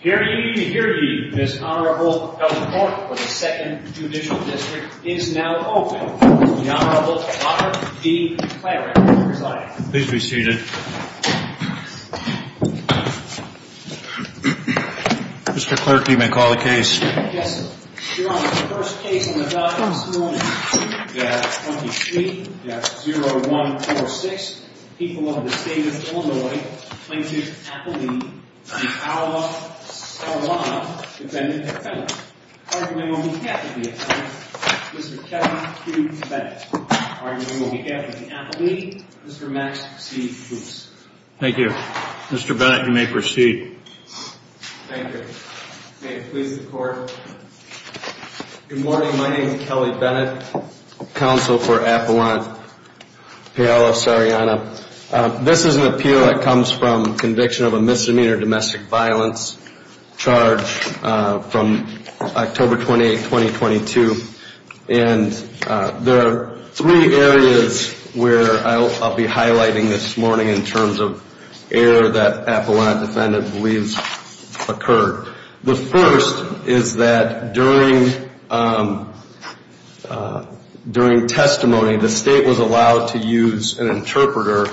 Hear ye, hear ye. This Honorable Health Court of the 2nd Judicial District is now open. The Honorable Robert D. Clarke will be presiding. Please be seated. Mr. Clarke, you may call the case. Yes, Your Honor. The first case on the docket this morning. We have 23-0146. The people of the state of Illinois plaintiff Appellee v. Paolo Sarellana defended at Bennett. Arguing on behalf of the Appellee, Mr. Kevin Q. Bennett. Arguing on behalf of the Appellee, Mr. Max C. Fuchs. Thank you. Mr. Bennett, you may proceed. Thank you. May it please the Court. Good morning. My name is Kelly Bennett, counsel for Appellant Paolo Sarellana. This is an appeal that comes from conviction of a misdemeanor domestic violence charge from October 28, 2022. And there are three areas where I'll be highlighting this morning in terms of error that Appellant defendant believes occurred. The first is that during testimony, the state was allowed to use an interpreter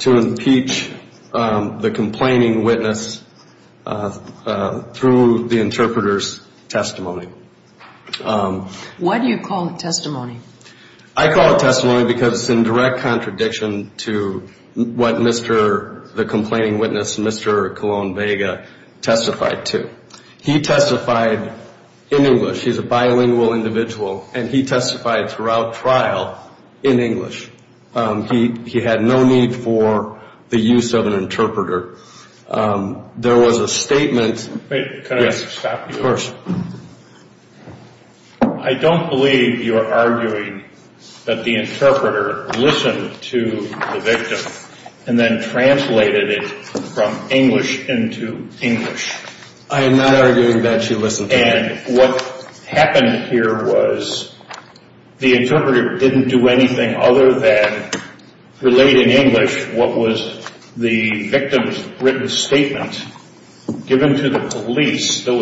to impeach the complaining witness through the interpreter's testimony. Why do you call it testimony? I call it testimony because it's in direct contradiction to what the complaining witness, Mr. Colon Vega, testified to. He testified in English. He's a bilingual individual. And he testified throughout trial in English. He had no need for the use of an interpreter. There was a statement- Yes, of course. I don't believe you're arguing that the interpreter listened to the victim and then translated it from English into English. I am not arguing that she listened to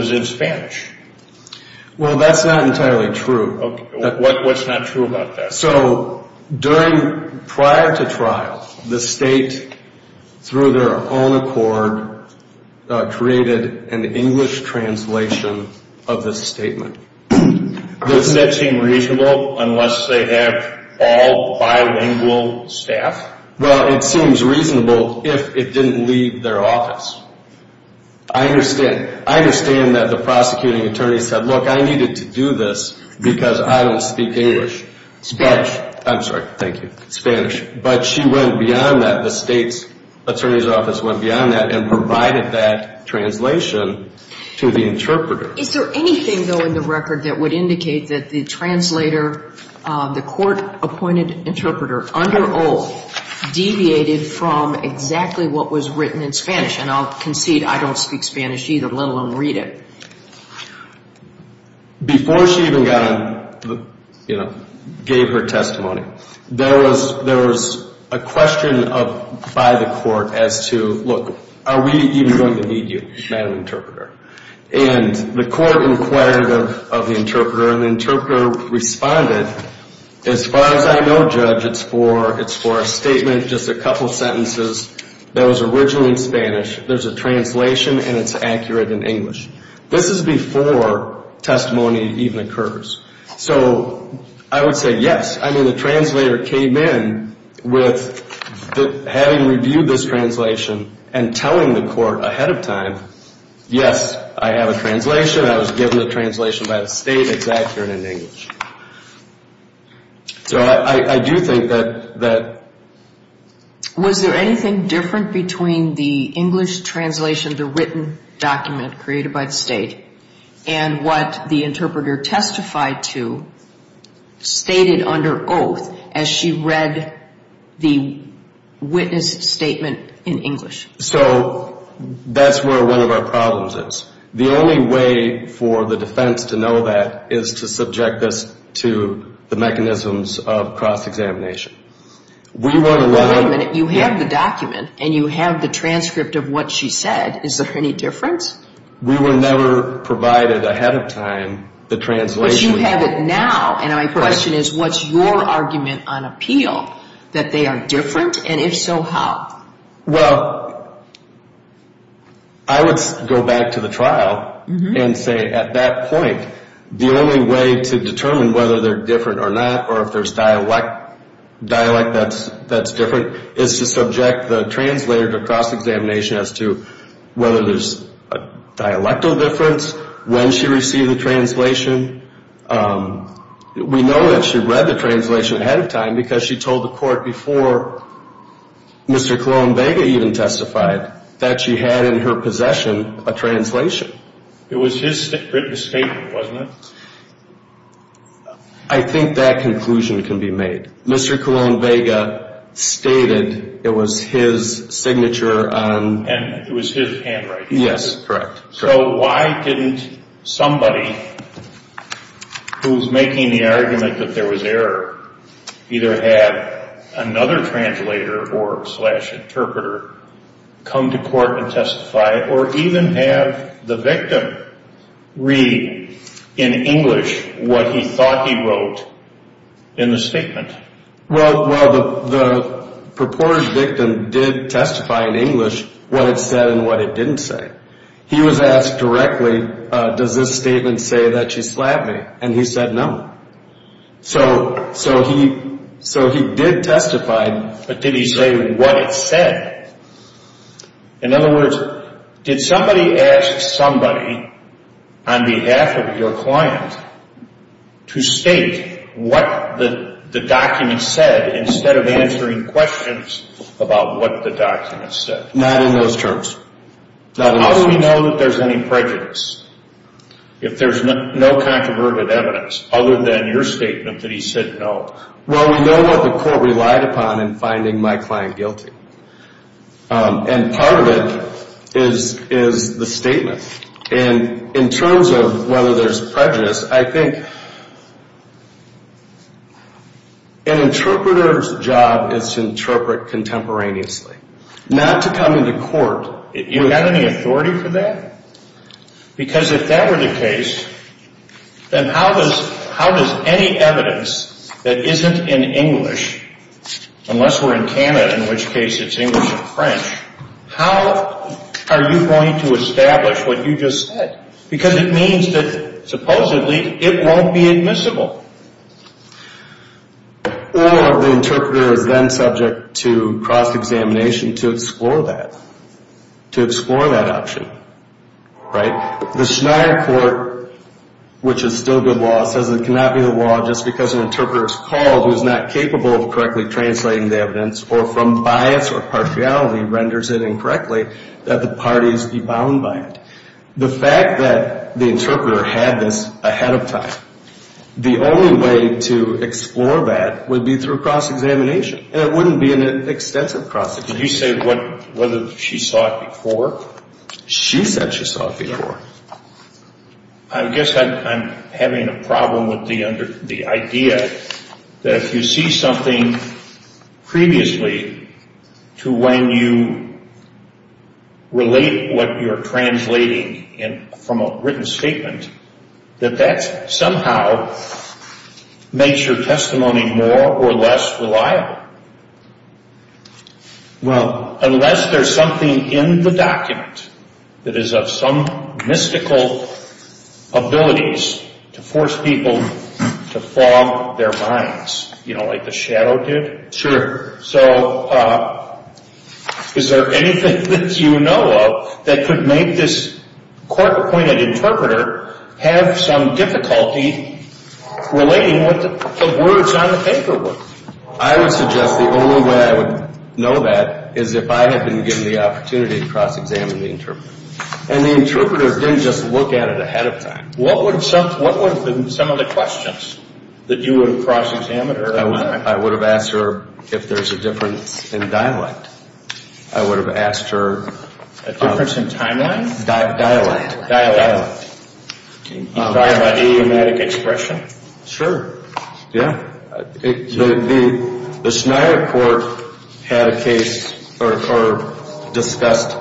him. Well, that's not entirely true. What's not true about that? So, prior to trial, the state, through their own accord, created an English translation of this statement. Doesn't that seem reasonable unless they have all bilingual staff? Well, it seems reasonable if it didn't leave their office. I understand. I understand that the prosecuting attorney said, look, I needed to do this because I don't speak English. Spanish. I'm sorry. Thank you. Spanish. But she went beyond that. The state's attorney's office went beyond that and provided that translation to the interpreter. Is there anything, though, in the record that would indicate that the translator, the court-appointed interpreter, under oath, deviated from exactly what was written in Spanish? And I'll concede I don't speak Spanish either, let alone read it. Before she even gave her testimony, there was a question by the court as to, look, are we even going to need you, Madam Interpreter? And the court inquired of the interpreter, and the interpreter responded, as far as I know, Judge, it's for a statement, just a couple sentences that was originally in Spanish. There's a translation, and it's accurate in English. This is before testimony even occurs. So I would say yes. I mean, the translator came in with having reviewed this translation and telling the court ahead of time, yes, I have a translation. I was given a translation by the state. It's accurate in English. So I do think that... Was there anything different between the English translation, the written document created by the state, and what the interpreter testified to, stated under oath, as she read the witness statement in English? So that's where one of our problems is. The only way for the defense to know that is to subject this to the mechanisms of cross-examination. Wait a minute. You have the document, and you have the transcript of what she said. Is there any difference? We were never provided ahead of time the translation. But you have it now, and my question is, what's your argument on appeal, that they are different? And if so, how? Well, I would go back to the trial and say, at that point, the only way to determine whether they're different or not or if there's dialect that's different is to subject the translator to cross-examination as to whether there's a dialectal difference, when she received the translation. We know that she read the translation ahead of time because she told the court before Mr. Colón Vega even testified that she had in her possession a translation. It was his written statement, wasn't it? I think that conclusion can be made. Mr. Colón Vega stated it was his signature on... And it was his handwriting. Yes, correct. So why didn't somebody who's making the argument that there was error either have another translator or slash interpreter come to court and testify or even have the victim read in English what he thought he wrote in the statement? Well, the purported victim did testify in English what it said and what it didn't say. He was asked directly, does this statement say that she slapped me? And he said no. So he did testify. But did he say what it said? In other words, did somebody ask somebody on behalf of your client to state what the document said instead of answering questions about what the document said? Not in those terms. How do we know that there's any prejudice if there's no controverted evidence other than your statement that he said no? Well, we know what the court relied upon in finding my client guilty. And part of it is the statement. And in terms of whether there's prejudice, I think an interpreter's job is to interpret contemporaneously, not to come into court. You have any authority for that? Because if that were the case, then how does any evidence that isn't in English, unless we're in Canada in which case it's English and French, how are you going to establish what you just said? Because it means that supposedly it won't be admissible. Or the interpreter is then subject to cross-examination to explore that, to explore that option. The Schneier court, which is still good law, says it cannot be the law just because an interpreter is called who is not capable of correctly translating the evidence or from bias or partiality renders it incorrectly that the parties be bound by it. The fact that the interpreter had this ahead of time, the only way to explore that would be through cross-examination. And it wouldn't be an extensive cross-examination. Did you say whether she saw it before? She said she saw it before. I guess I'm having a problem with the idea that if you see something previously to when you relate what you're translating from a written statement, that that somehow makes your testimony more or less reliable. Well, unless there's something in the document that is of some mystical abilities to force people to fog their minds, you know, like the shadow did. Sure. So is there anything that you know of that could make this court-appointed interpreter have some difficulty relating what the words on the paper were? I would suggest the only way I would know that is if I had been given the opportunity to cross-examine the interpreter. And the interpreter didn't just look at it ahead of time. What would have been some of the questions that you would have cross-examined her? I would have asked her if there's a difference in dialect. I would have asked her... A difference in timeline? Dialect. Dialect. Dialect, idiomatic expression? Sure, yeah. The Schneider court had a case or discussed,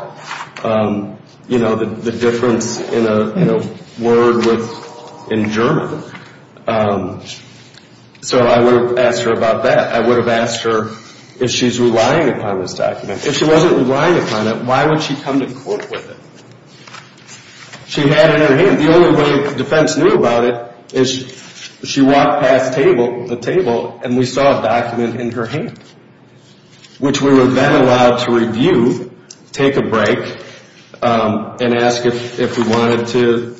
you know, the difference in a word in German. So I would have asked her about that. I would have asked her if she's relying upon this document. If she wasn't relying upon it, why would she come to court with it? She had it in her hand. The only way the defense knew about it is she walked past the table and we saw a document in her hand, which we were then allowed to review, take a break, and ask if we wanted to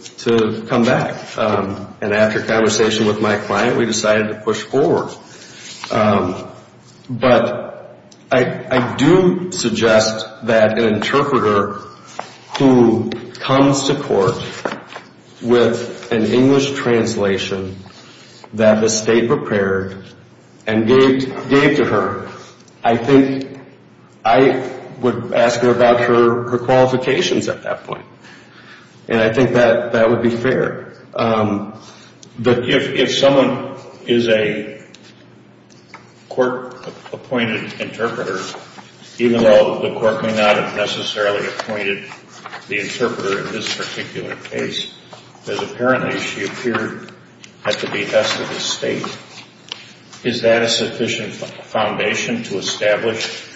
come back and after conversation with my client, we decided to push forward. But I do suggest that an interpreter who comes to court with an English translation that the state prepared and gave to her, I think I would ask her about her qualifications at that point. And I think that would be fair. But if someone is a court-appointed interpreter, even though the court may not have necessarily appointed the interpreter in this particular case, because apparently she appeared at the behest of the state, is that a sufficient foundation to establish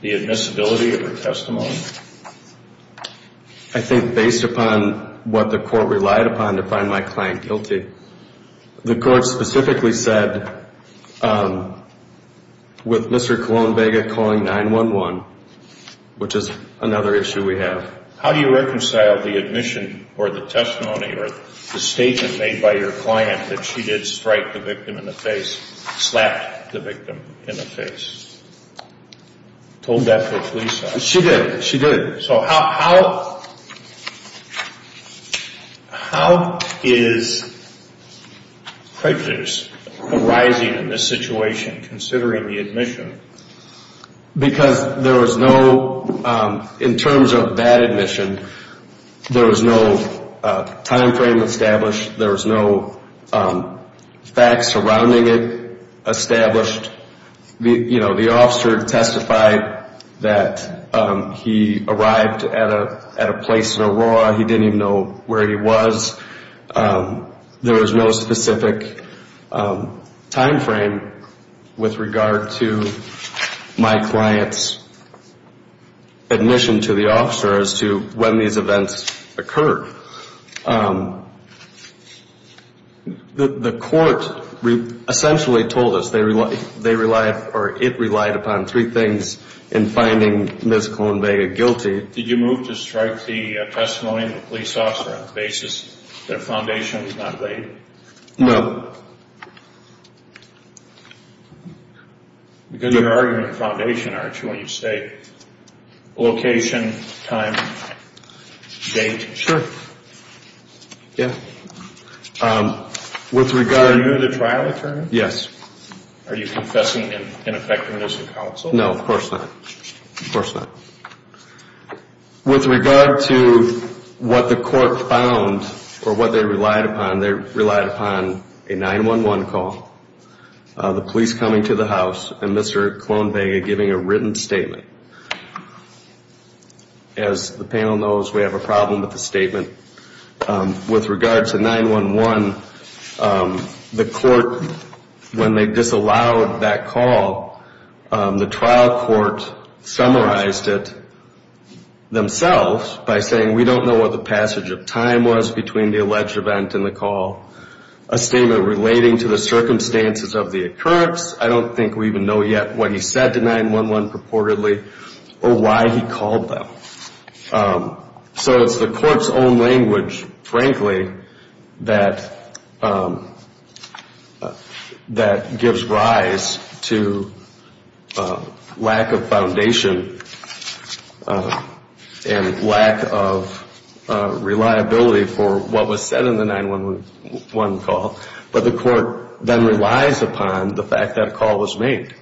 the admissibility of her testimony? I think based upon what the court relied upon to find my client guilty. The court specifically said with Mr. Colón Vega calling 911, which is another issue we have. How do you reconcile the admission or the testimony or the statement made by your client that she did strike the victim in the face, slapped the victim in the face? Told that to the police officer. She did. She did. So how is prejudice arising in this situation, considering the admission? Because there was no, in terms of that admission, there was no time frame established. There was no facts surrounding it established. The officer testified that he arrived at a place in Aurora. He didn't even know where he was. There was no specific time frame with regard to my client's admission to the officer as to when these events occurred. The court essentially told us they relied or it relied upon three things in finding Ms. Colón Vega guilty. Did you move to strike the testimony of the police officer on the basis that a foundation was not laid? No. Because you're arguing a foundation, aren't you, when you say location, time, date? Sure. Yeah. Were you the trial attorney? Yes. Are you confessing in effectiveness of counsel? No, of course not. Of course not. With regard to what the court found or what they relied upon, they relied upon a 911 call, the police coming to the house, and Mr. Colón Vega giving a written statement. As the panel knows, we have a problem with the statement. With regard to 911, the court, when they disallowed that call, the trial court summarized it themselves by saying, we don't know what the passage of time was between the alleged event and the call. A statement relating to the circumstances of the occurrence. I don't think we even know yet what he said to 911 purportedly or why he called them. So it's the court's own language, frankly, that gives rise to lack of foundation and lack of reliability for what was said in the 911 call. But the court then relies upon the fact that a call was made.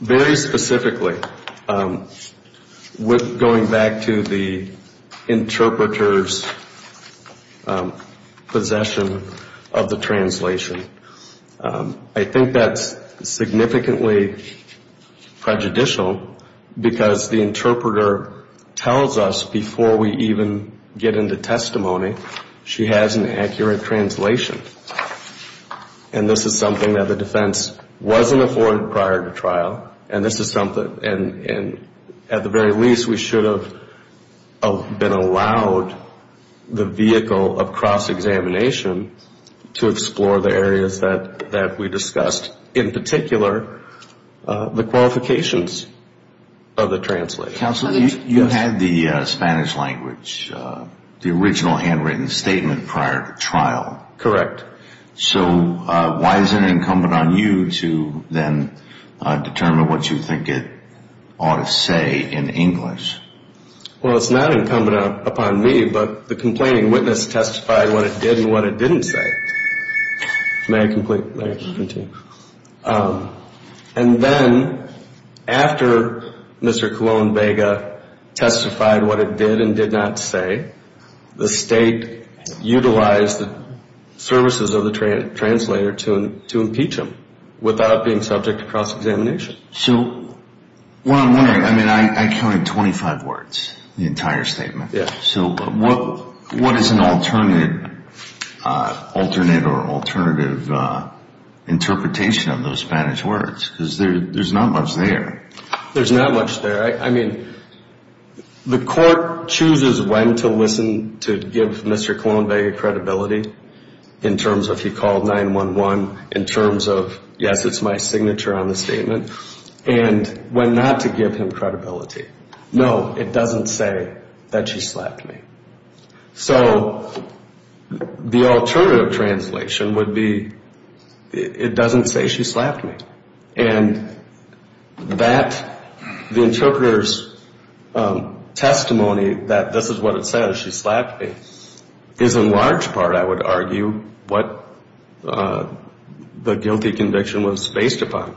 Very specifically, going back to the interpreter's possession of the translation, I think that's significantly prejudicial because the interpreter tells us before we even get into testimony, she has an accurate translation. And this is something that the defense wasn't afforded prior to trial. And at the very least, we should have been allowed the vehicle of cross-examination to explore the areas that we discussed. In particular, the qualifications of the translator. Counsel, you had the Spanish language, the original handwritten statement prior to trial. Correct. So why is it incumbent on you to then determine what you think it ought to say in English? Well, it's not incumbent upon me, but the complaining witness testified what it did and what it didn't say. And then, after Mr. Colon Vega testified what it did and did not say, the state utilized the services of the translator to impeach him without being subject to cross-examination. So what I'm wondering, I counted 25 words in the entire statement. So what is an alternate or alternative interpretation of those Spanish words? Because there's not much there. There's not much there. I mean, the court chooses when to listen to give Mr. Colon Vega credibility in terms of he called 911, in terms of, yes, it's my signature on the statement, and when not to give him credibility. No, it doesn't say that she slapped me. So the alternative translation would be, it doesn't say she slapped me. And that, the interpreter's testimony that this is what it says, she slapped me, is in large part, I would argue, what the guilty conviction was based upon.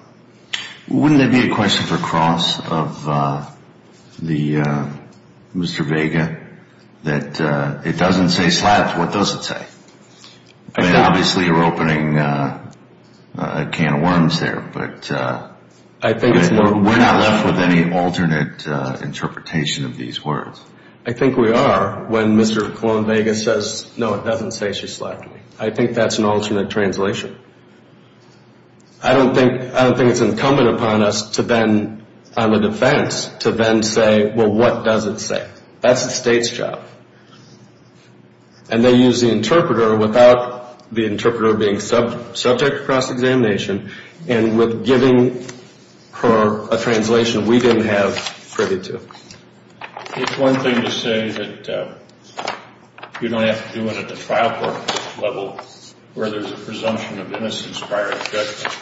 Wouldn't there be a question for Cross of Mr. Vega that it doesn't say slapped? What does it say? Obviously you're opening a can of worms there, but we're not left with any alternate interpretation of these words. I think we are when Mr. Colon Vega says, no, it doesn't say she slapped me. I think that's an alternate translation. I don't think it's incumbent upon us to then, on the defense, to then say, well, what does it say? That's the state's job. And they use the interpreter without the interpreter being subject to cross-examination, and with giving her a translation we didn't have privy to. It's one thing to say that you don't have to do it at the trial court level, where there's a presumption of innocence prior to judgment.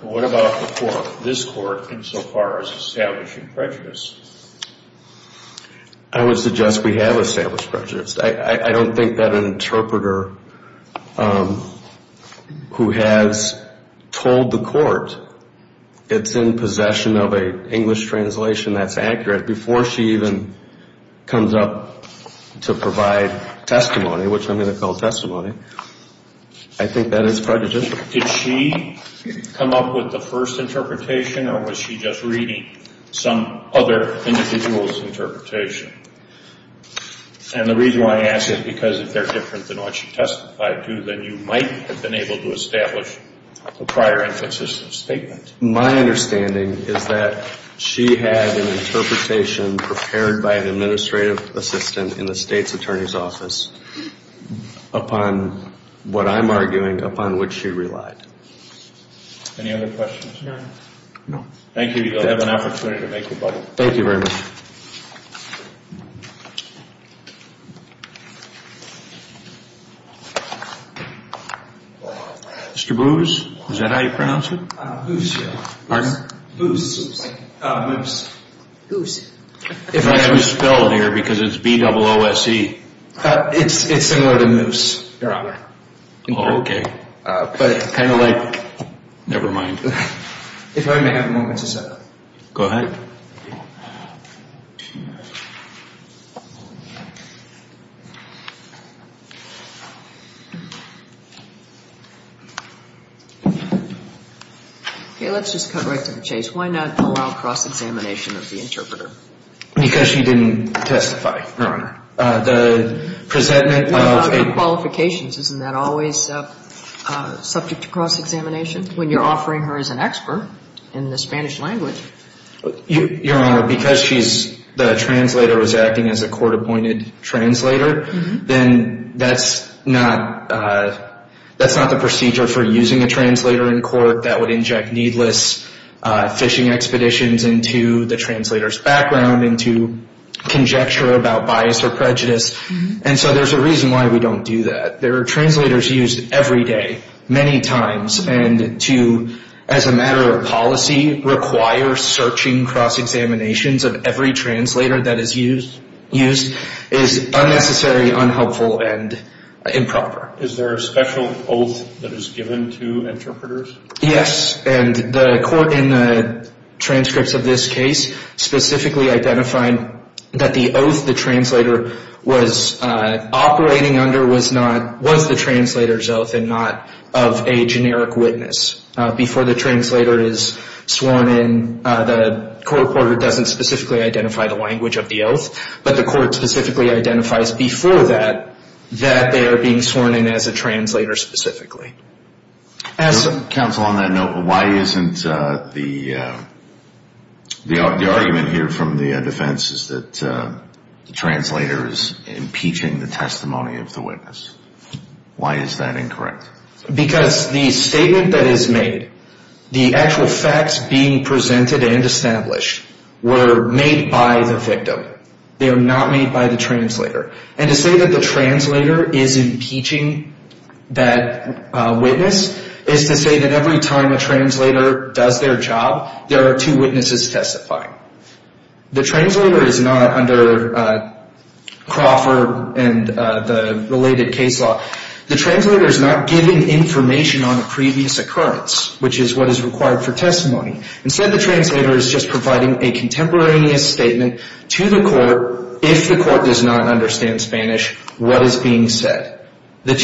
What about the court, this court, insofar as establishing prejudice? I would suggest we have established prejudice. I don't think that an interpreter who has told the court it's in possession of an English translation that's accurate before she even comes up to provide testimony, which I'm going to call testimony, I think that is prejudicial. Did she come up with the first interpretation, or was she just reading some other individual's interpretation? And the reason why I ask is because if they're different than what she testified to, then you might have been able to establish a prior inconsistent statement. My understanding is that she had an interpretation prepared by an administrative assistant in the state's attorney's office upon what I'm arguing, upon which she relied. Any other questions? No. Thank you. You'll have an opportunity to make your button. Thank you very much. Mr. Booz, is that how you pronounce it? Booz. Pardon? Booz. Booz. Booz. If I can spell it here, because it's B-double-O-S-E. It's similar to moose, Your Honor. Oh, okay. But kind of like... Never mind. If I may have a moment to set up. Go ahead. Okay, let's just cut right to the chase. Why not allow cross-examination of the interpreter? Because she didn't testify, Your Honor. The presentment of... You're talking about qualifications. Isn't that always subject to cross-examination when you're offering her as an expert in the Spanish language? Your Honor, because the translator was acting as a court-appointed translator, then that's not the procedure for using a translator in court. That would inject needless fishing expeditions into the translator's background, into conjecture about bias or prejudice. And so there's a reason why we don't do that. There are translators used every day, many times, and to, as a matter of policy, require searching cross-examinations of every translator that is used is unnecessary, unhelpful, and improper. Is there a special oath that is given to interpreters? Yes, and the court in the transcripts of this case specifically identified that the oath the translator was operating under was the translator's oath and not of a generic witness. Before the translator is sworn in, the court reporter doesn't specifically identify the language of the oath, but the court specifically identifies before that that they are being sworn in as a translator specifically. Counsel, on that note, why isn't the argument here from the defense that the translator is impeaching the testimony of the witness? Why is that incorrect? Because the statement that is made, the actual facts being presented and established, were made by the victim. They are not made by the translator. And to say that the translator is impeaching that witness is to say that every time a translator does their job, there are two witnesses testifying. The translator is not, under Crawford and the related case law, the translator is not giving information on a previous occurrence, which is what is required for testimony. Instead, the translator is just providing a contemporaneous statement to the court if the court does not understand Spanish, what is being said. The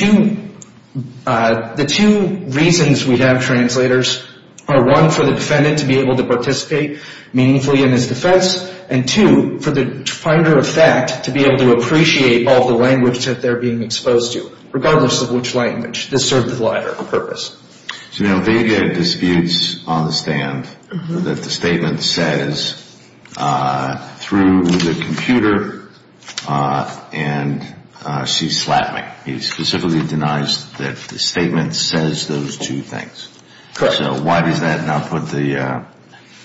two reasons we have translators are, one, for the defendant to be able to participate meaningfully in his defense, and two, for the finder of fact to be able to appreciate all the language that they're being exposed to, regardless of which language. This serves the latter purpose. So now they get disputes on the stand, that the statement says, through the computer, and she slapped me. He specifically denies that the statement says those two things. Correct. So why does that not put the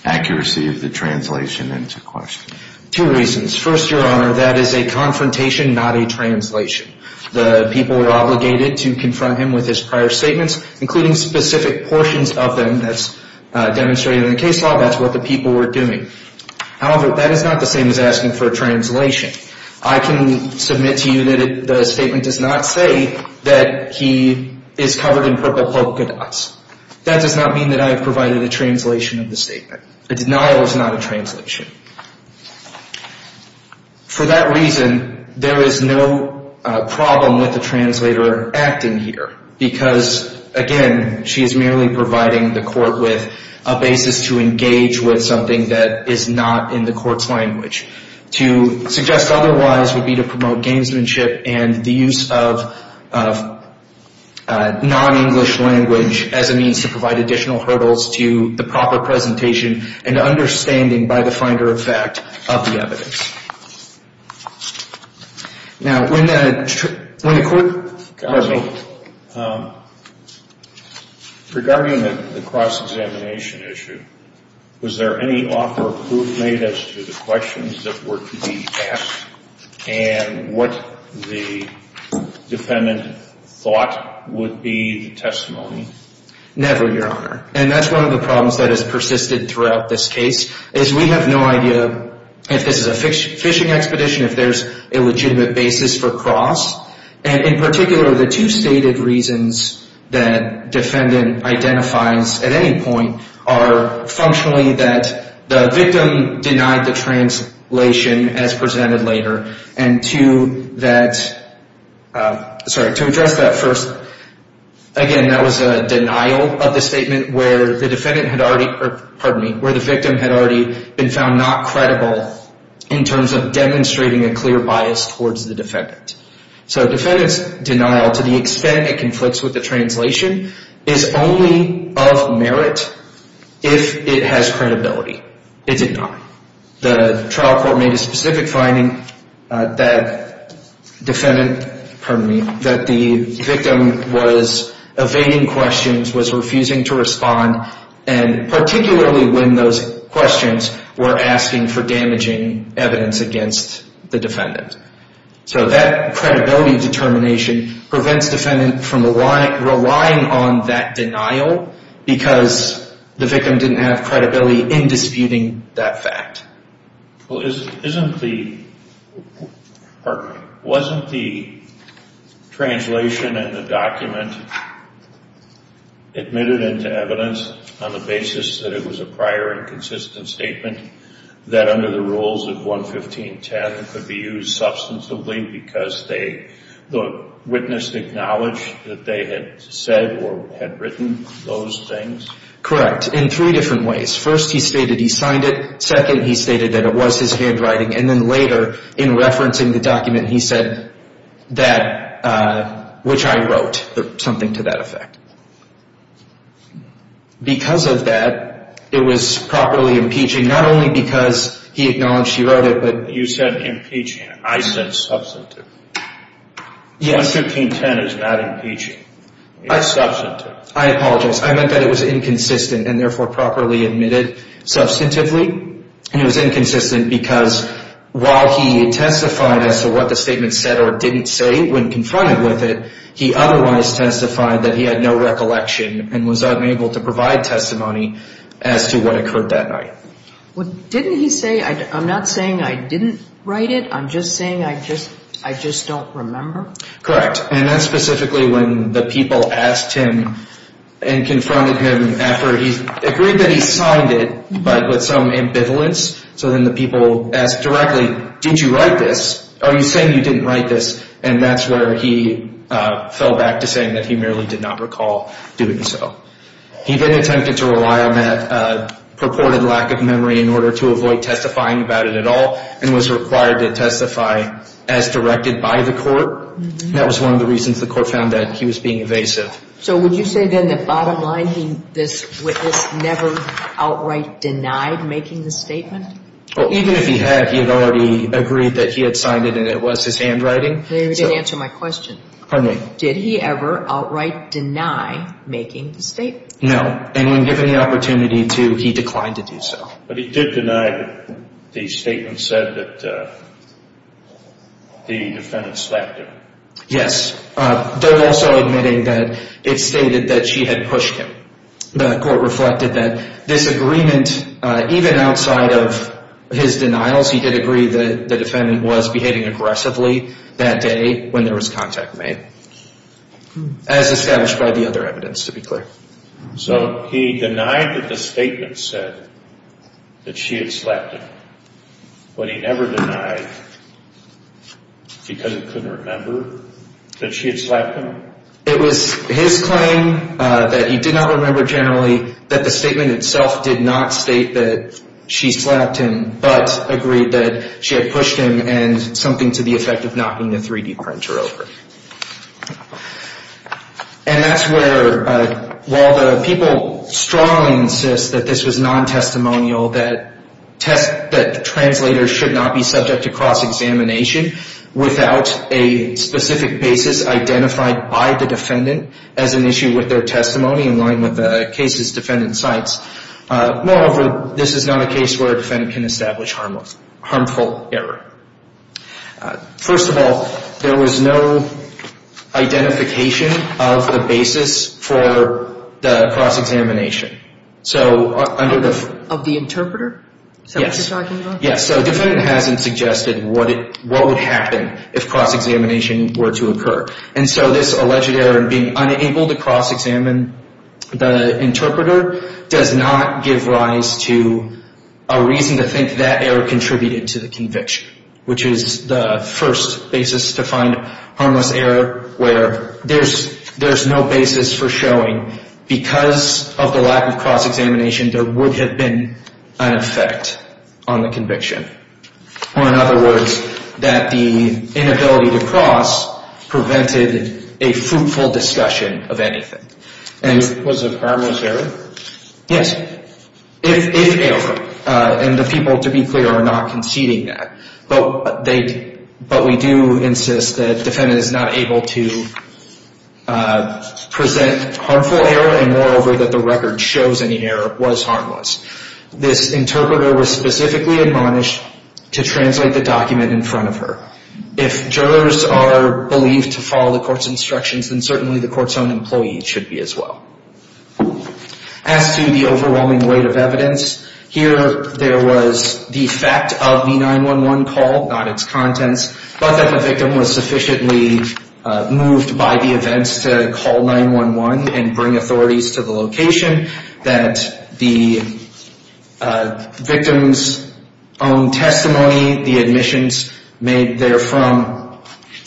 accuracy of the translation into question? Two reasons. First, Your Honor, that is a confrontation, not a translation. The people are obligated to confront him with his prior statements, including specific portions of them that's demonstrated in the case law. That's what the people were doing. However, that is not the same as asking for a translation. I can submit to you that the statement does not say that he is covered in purple polka dots. That does not mean that I have provided a translation of the statement. The denial is not a translation. For that reason, there is no problem with the translator acting here because, again, she is merely providing the court with a basis to engage with something that is not in the court's language. To suggest otherwise would be to promote gamesmanship and the use of non-English language as a means to provide additional hurdles to the proper presentation and understanding by the finder of fact of the evidence. Now, when the court... Counsel, regarding the cross-examination issue, was there any offer of proof made as to the questions that were to be asked and what the defendant thought would be the testimony? Never, Your Honor. And that's one of the problems that has persisted throughout this case is we have no idea if this is a fishing expedition, if there's a legitimate basis for cross. And in particular, the two stated reasons that defendant identifies at any point are functionally that the victim denied the translation as presented later and to that... Sorry, to address that first, again, that was a denial of the statement where the victim had already been found not credible in terms of demonstrating a clear bias towards the defendant. So defendant's denial, to the extent it conflicts with the translation, is only of merit if it has credibility. It did not. The trial court made a specific finding that the victim was evading questions, was refusing to respond, and particularly when those questions were asking for damaging evidence against the defendant. So that credibility determination prevents defendant from relying on that denial because the victim didn't have credibility in disputing that fact. Well, isn't the... Wasn't the translation in the document admitted into evidence on the basis that it was a prior and consistent statement that under the rules of 115.10 could be used substantively because the witness acknowledged that they had said or had written those things? Correct, in three different ways. First, he stated he signed it. Second, he stated that it was his handwriting. And then later, in referencing the document, he said that, which I wrote something to that effect. Because of that, it was properly impeaching, not only because he acknowledged he wrote it, but... You said impeaching. I said substantive. 115.10 is not impeaching. It's substantive. I apologize. I meant that it was inconsistent and therefore properly admitted substantively. And it was inconsistent because while he testified as to what the statement said or didn't say when confronted with it, he otherwise testified that he had no recollection and was unable to provide testimony as to what occurred that night. Didn't he say, I'm not saying I didn't write it, I'm just saying I just don't remember? Correct. And that's specifically when the people asked him and confronted him after he agreed that he signed it, but with some ambivalence. So then the people asked directly, did you write this? Are you saying you didn't write this? And that's where he fell back to saying that he merely did not recall doing so. He then attempted to rely on that purported lack of memory in order to avoid testifying about it at all and was required to testify as directed by the court. That was one of the reasons the court found that he was being evasive. So would you say then that bottom line, this witness never outright denied making the statement? Well, even if he had, he had already agreed that he had signed it and it was his handwriting. You didn't answer my question. Pardon me. Did he ever outright deny making the statement? No. And when given the opportunity to, he declined to do so. But he did deny that the statement said that the defendant slapped him. Yes. Though also admitting that it stated that she had pushed him. The court reflected that this agreement, even outside of his denials, he did agree that the defendant was behaving aggressively that day when there was contact made, as established by the other evidence, to be clear. So he denied that the statement said that she had slapped him. But he never denied, because he couldn't remember, that she had slapped him? It was his claim that he did not remember generally that the statement itself did not state that she slapped him, but agreed that she had pushed him and something to the effect of knocking the 3-D printer over. And that's where, while the people strongly insist that this was non-testimonial, that translators should not be subject to cross-examination without a specific basis identified by the defendant as an issue with their testimony in line with the case's defendant's sites. Moreover, this is not a case where a defendant can establish harmful error. First of all, there was no identification of the basis for the cross-examination. Of the interpreter? Yes. So the defendant hasn't suggested what would happen if cross-examination were to occur. And so this alleged error in being unable to cross-examine the interpreter does not give rise to a reason to think that error contributed to the conviction, which is the first basis to find harmless error, where there's no basis for showing because of the lack of cross-examination there would have been an effect on the conviction. Or in other words, that the inability to cross prevented a fruitful discussion of anything. Because of harmless error? Yes. If ever. And the people, to be clear, are not conceding that. But we do insist that the defendant is not able to present harmful error, and moreover that the record shows any error was harmless. This interpreter was specifically admonished to translate the document in front of her. If jurors are believed to follow the court's instructions, then certainly the court's own employees should be as well. As to the overwhelming weight of evidence, here there was the fact of the 911 call, not its contents, but that the victim was sufficiently moved by the events to call 911 and bring authorities to the location that the victim's own testimony, the admissions made there from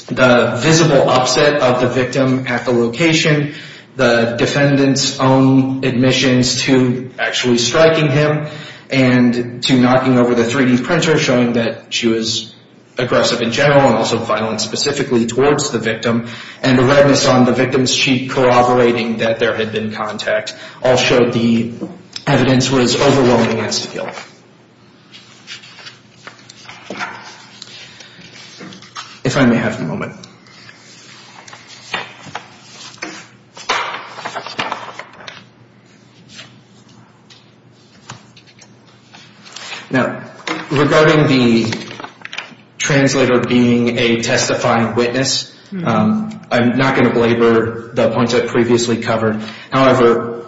the visible upset of the victim at the location, the defendant's own admissions to actually striking him, and to knocking over the 3D printer showing that she was aggressive in general and also violent specifically towards the victim, and the redness on the victim's cheek corroborating that there had been contact all showed the evidence was overwhelming in this field. If I may have a moment. Now, regarding the translator being a testifying witness, I'm not going to belabor the points I previously covered. However,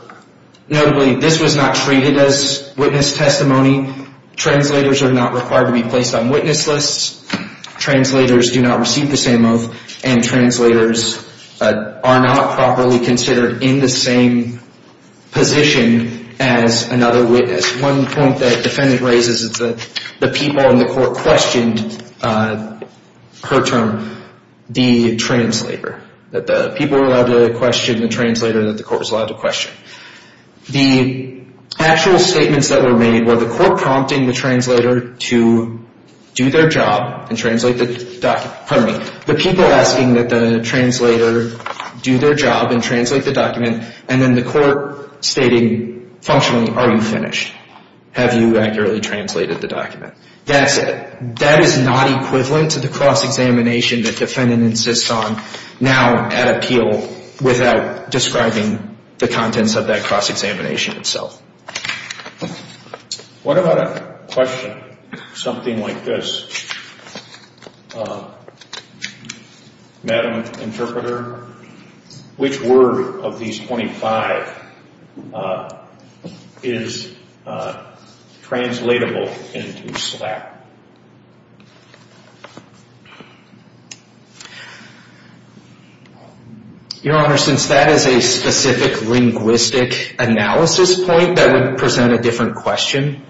notably, this was not treated as witness testimony. Translators are not required to be placed on witness lists. Translators do not receive the same oath, and translators are not properly considered in the same position as another witness. One point that the defendant raises is that the people in the court questioned her term, the translator, that the people were allowed to question the translator that the court was allowed to question. The actual statements that were made were the court prompting the translator to do their job and translate the document, pardon me, the people asking that the translator do their job and translate the document, and then the court stating functionally, are you finished? Have you accurately translated the document? That's it. That is not equivalent to the cross-examination that the defendant insists on now at appeal without describing the contents of that cross-examination itself. What about a question, something like this? Madam Interpreter, which word of these 25 is translatable into SLAPP? Your Honor, since that is a specific linguistic analysis point, that would present a different question.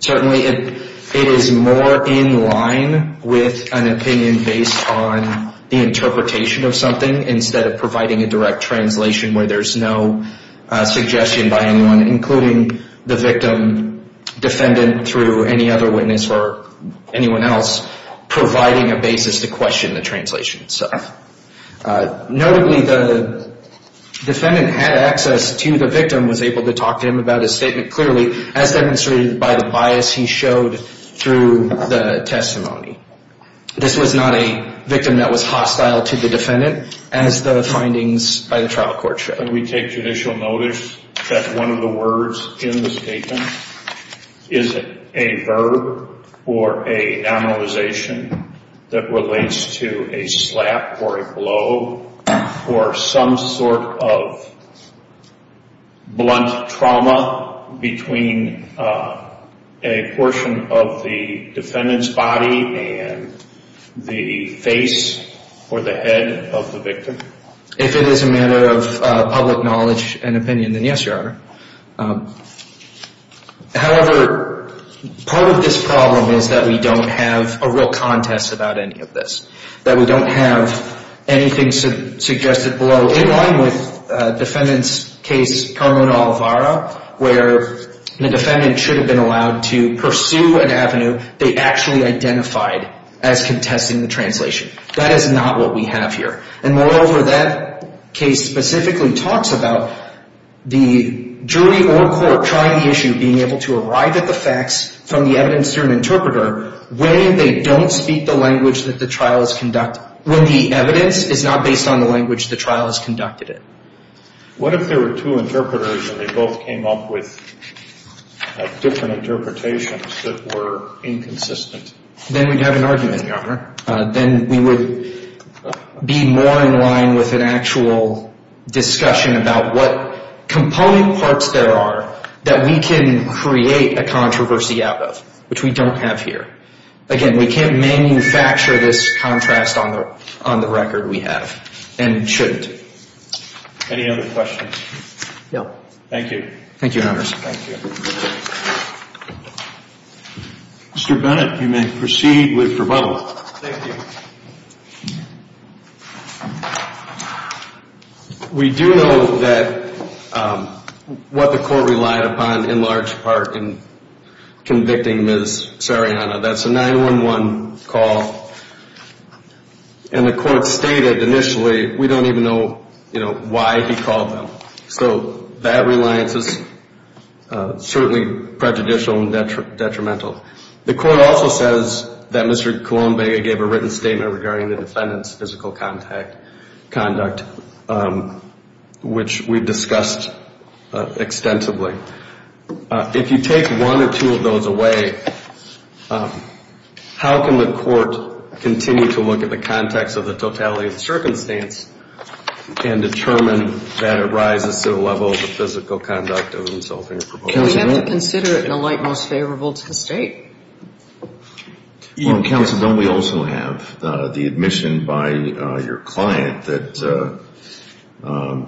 Certainly it is more in line with an opinion based on the interpretation of something instead of providing a direct translation where there's no suggestion by anyone, including the victim, defendant, through any other witness or anyone else, providing a basis to question the translation itself. Notably, the defendant had access to the victim, was able to talk to him about his statement clearly, as demonstrated by the bias he showed through the testimony. This was not a victim that was hostile to the defendant, as the findings by the trial court showed. Can we take judicial notice that one of the words in the statement is a verb or a nominalization that relates to a SLAPP or a blow or some sort of blunt trauma between a portion of the defendant's body and the face or the head of the victim? If it is a matter of public knowledge and opinion, then yes, Your Honor. However, part of this problem is that we don't have a real contest about any of this, that we don't have anything suggested below, in line with defendant's case, Carmona-Olivara, where the defendant should have been allowed to pursue an avenue they actually identified as contesting the translation. That is not what we have here. And moreover, that case specifically talks about the jury or court trying the issue, when they don't speak the language that the trial has conducted, when the evidence is not based on the language the trial has conducted it. What if there were two interpreters and they both came up with different interpretations that were inconsistent? Then we'd have an argument, Your Honor. Then we would be more in line with an actual discussion about what component parts there are that we can create a controversy out of, which we don't have here. Again, we can't manufacture this contrast on the record we have, and shouldn't. Any other questions? No. Thank you. Thank you, Your Honors. Mr. Bennett, you may proceed with rebuttal. Thank you. We do know that what the court relied upon in large part in convicting Ms. Sarayana, that's a 911 call, and the court stated initially, we don't even know why he called them. So that reliance is certainly prejudicial and detrimental. The court also says that Mr. Colombega gave a written statement regarding the defendant's physical conduct, which we discussed extensively. If you take one or two of those away, how can the court continue to look at the context of the totality of the circumstance and determine that it rises to the level of the physical conduct of the insulting or provoking? We have to consider it in the light most favorable to the State. Counsel, don't we also have the admission by your client that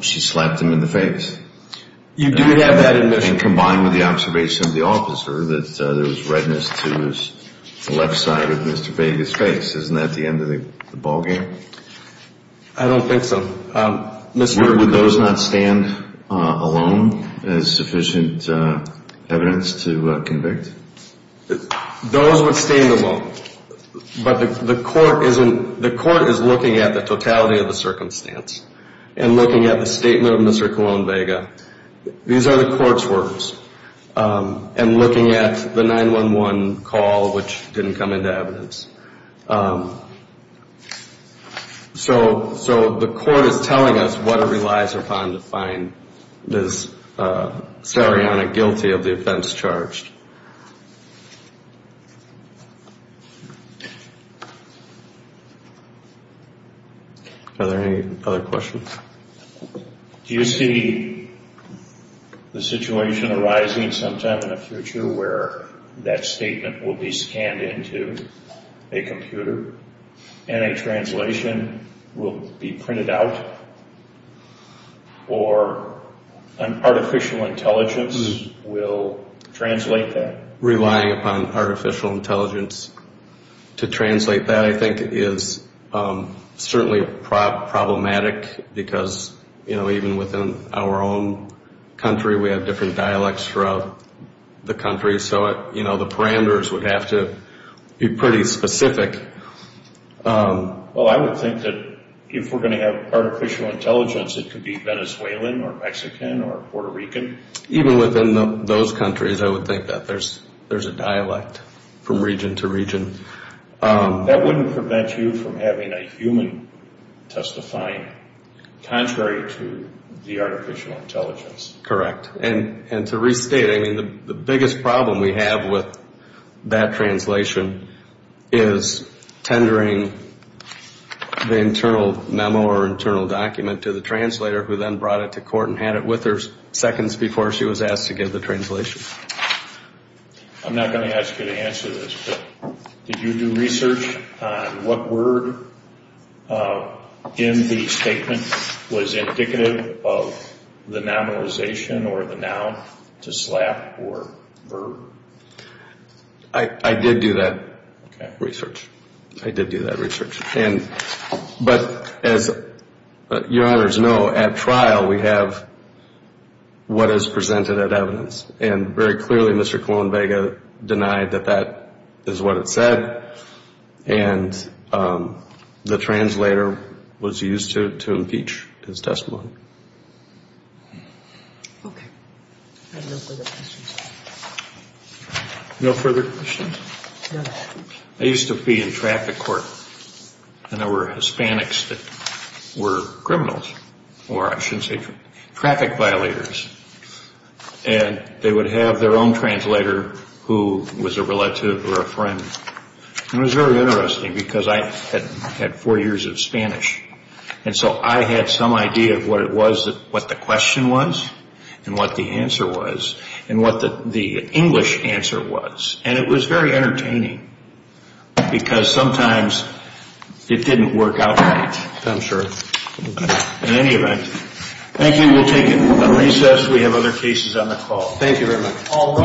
she slapped him in the face? You do have that admission. And combined with the observation of the officer that there was redness to his left side of Mr. Vega's face. Isn't that the end of the ballgame? I don't think so. Would those not stand alone as sufficient evidence to convict? Those would stand alone. But the court is looking at the totality of the circumstance and looking at the statement of Mr. Colombega. These are the court's words. And looking at the 911 call, which didn't come into evidence. So the court is telling us what it relies upon to find this Sariana guilty of the offense charged. Are there any other questions? Do you see the situation arising sometime in the future where that statement will be scanned into? A computer and a translation will be printed out? Or an artificial intelligence will translate that? Relying upon artificial intelligence to translate that, I think, is certainly problematic. Because even within our own country, we have different dialects throughout the country. So the parameters would have to be pretty specific. Well, I would think that if we're going to have artificial intelligence, it could be Venezuelan or Mexican or Puerto Rican. Even within those countries, I would think that there's a dialect from region to region. That wouldn't prevent you from having a human testifying, contrary to the artificial intelligence. Correct. And to restate, I mean, the biggest problem we have with that translation is tendering the internal memo or internal document to the translator who then brought it to court and had it with her seconds before she was asked to give the translation. I'm not going to ask you to answer this, but did you do research on what word in the statement was indicative of the nominalization or the noun to slap or verb? I did do that research. I did do that research. But as Your Honors know, at trial, we have what is presented at evidence. And very clearly, Mr. Colón Vega denied that that is what it said. And the translator was used to impeach his testimony. Okay. Any further questions? No further questions? No. I used to be in traffic court, and there were Hispanics that were criminals, or I should say traffic violators. And they would have their own translator who was a relative or a friend. And it was very interesting because I had four years of Spanish, and so I had some idea of what the question was and what the answer was and what the English answer was. And it was very entertaining because sometimes it didn't work out right. I'm sure. In any event, thank you. We'll take a recess. We have other cases on the call. Thank you very much.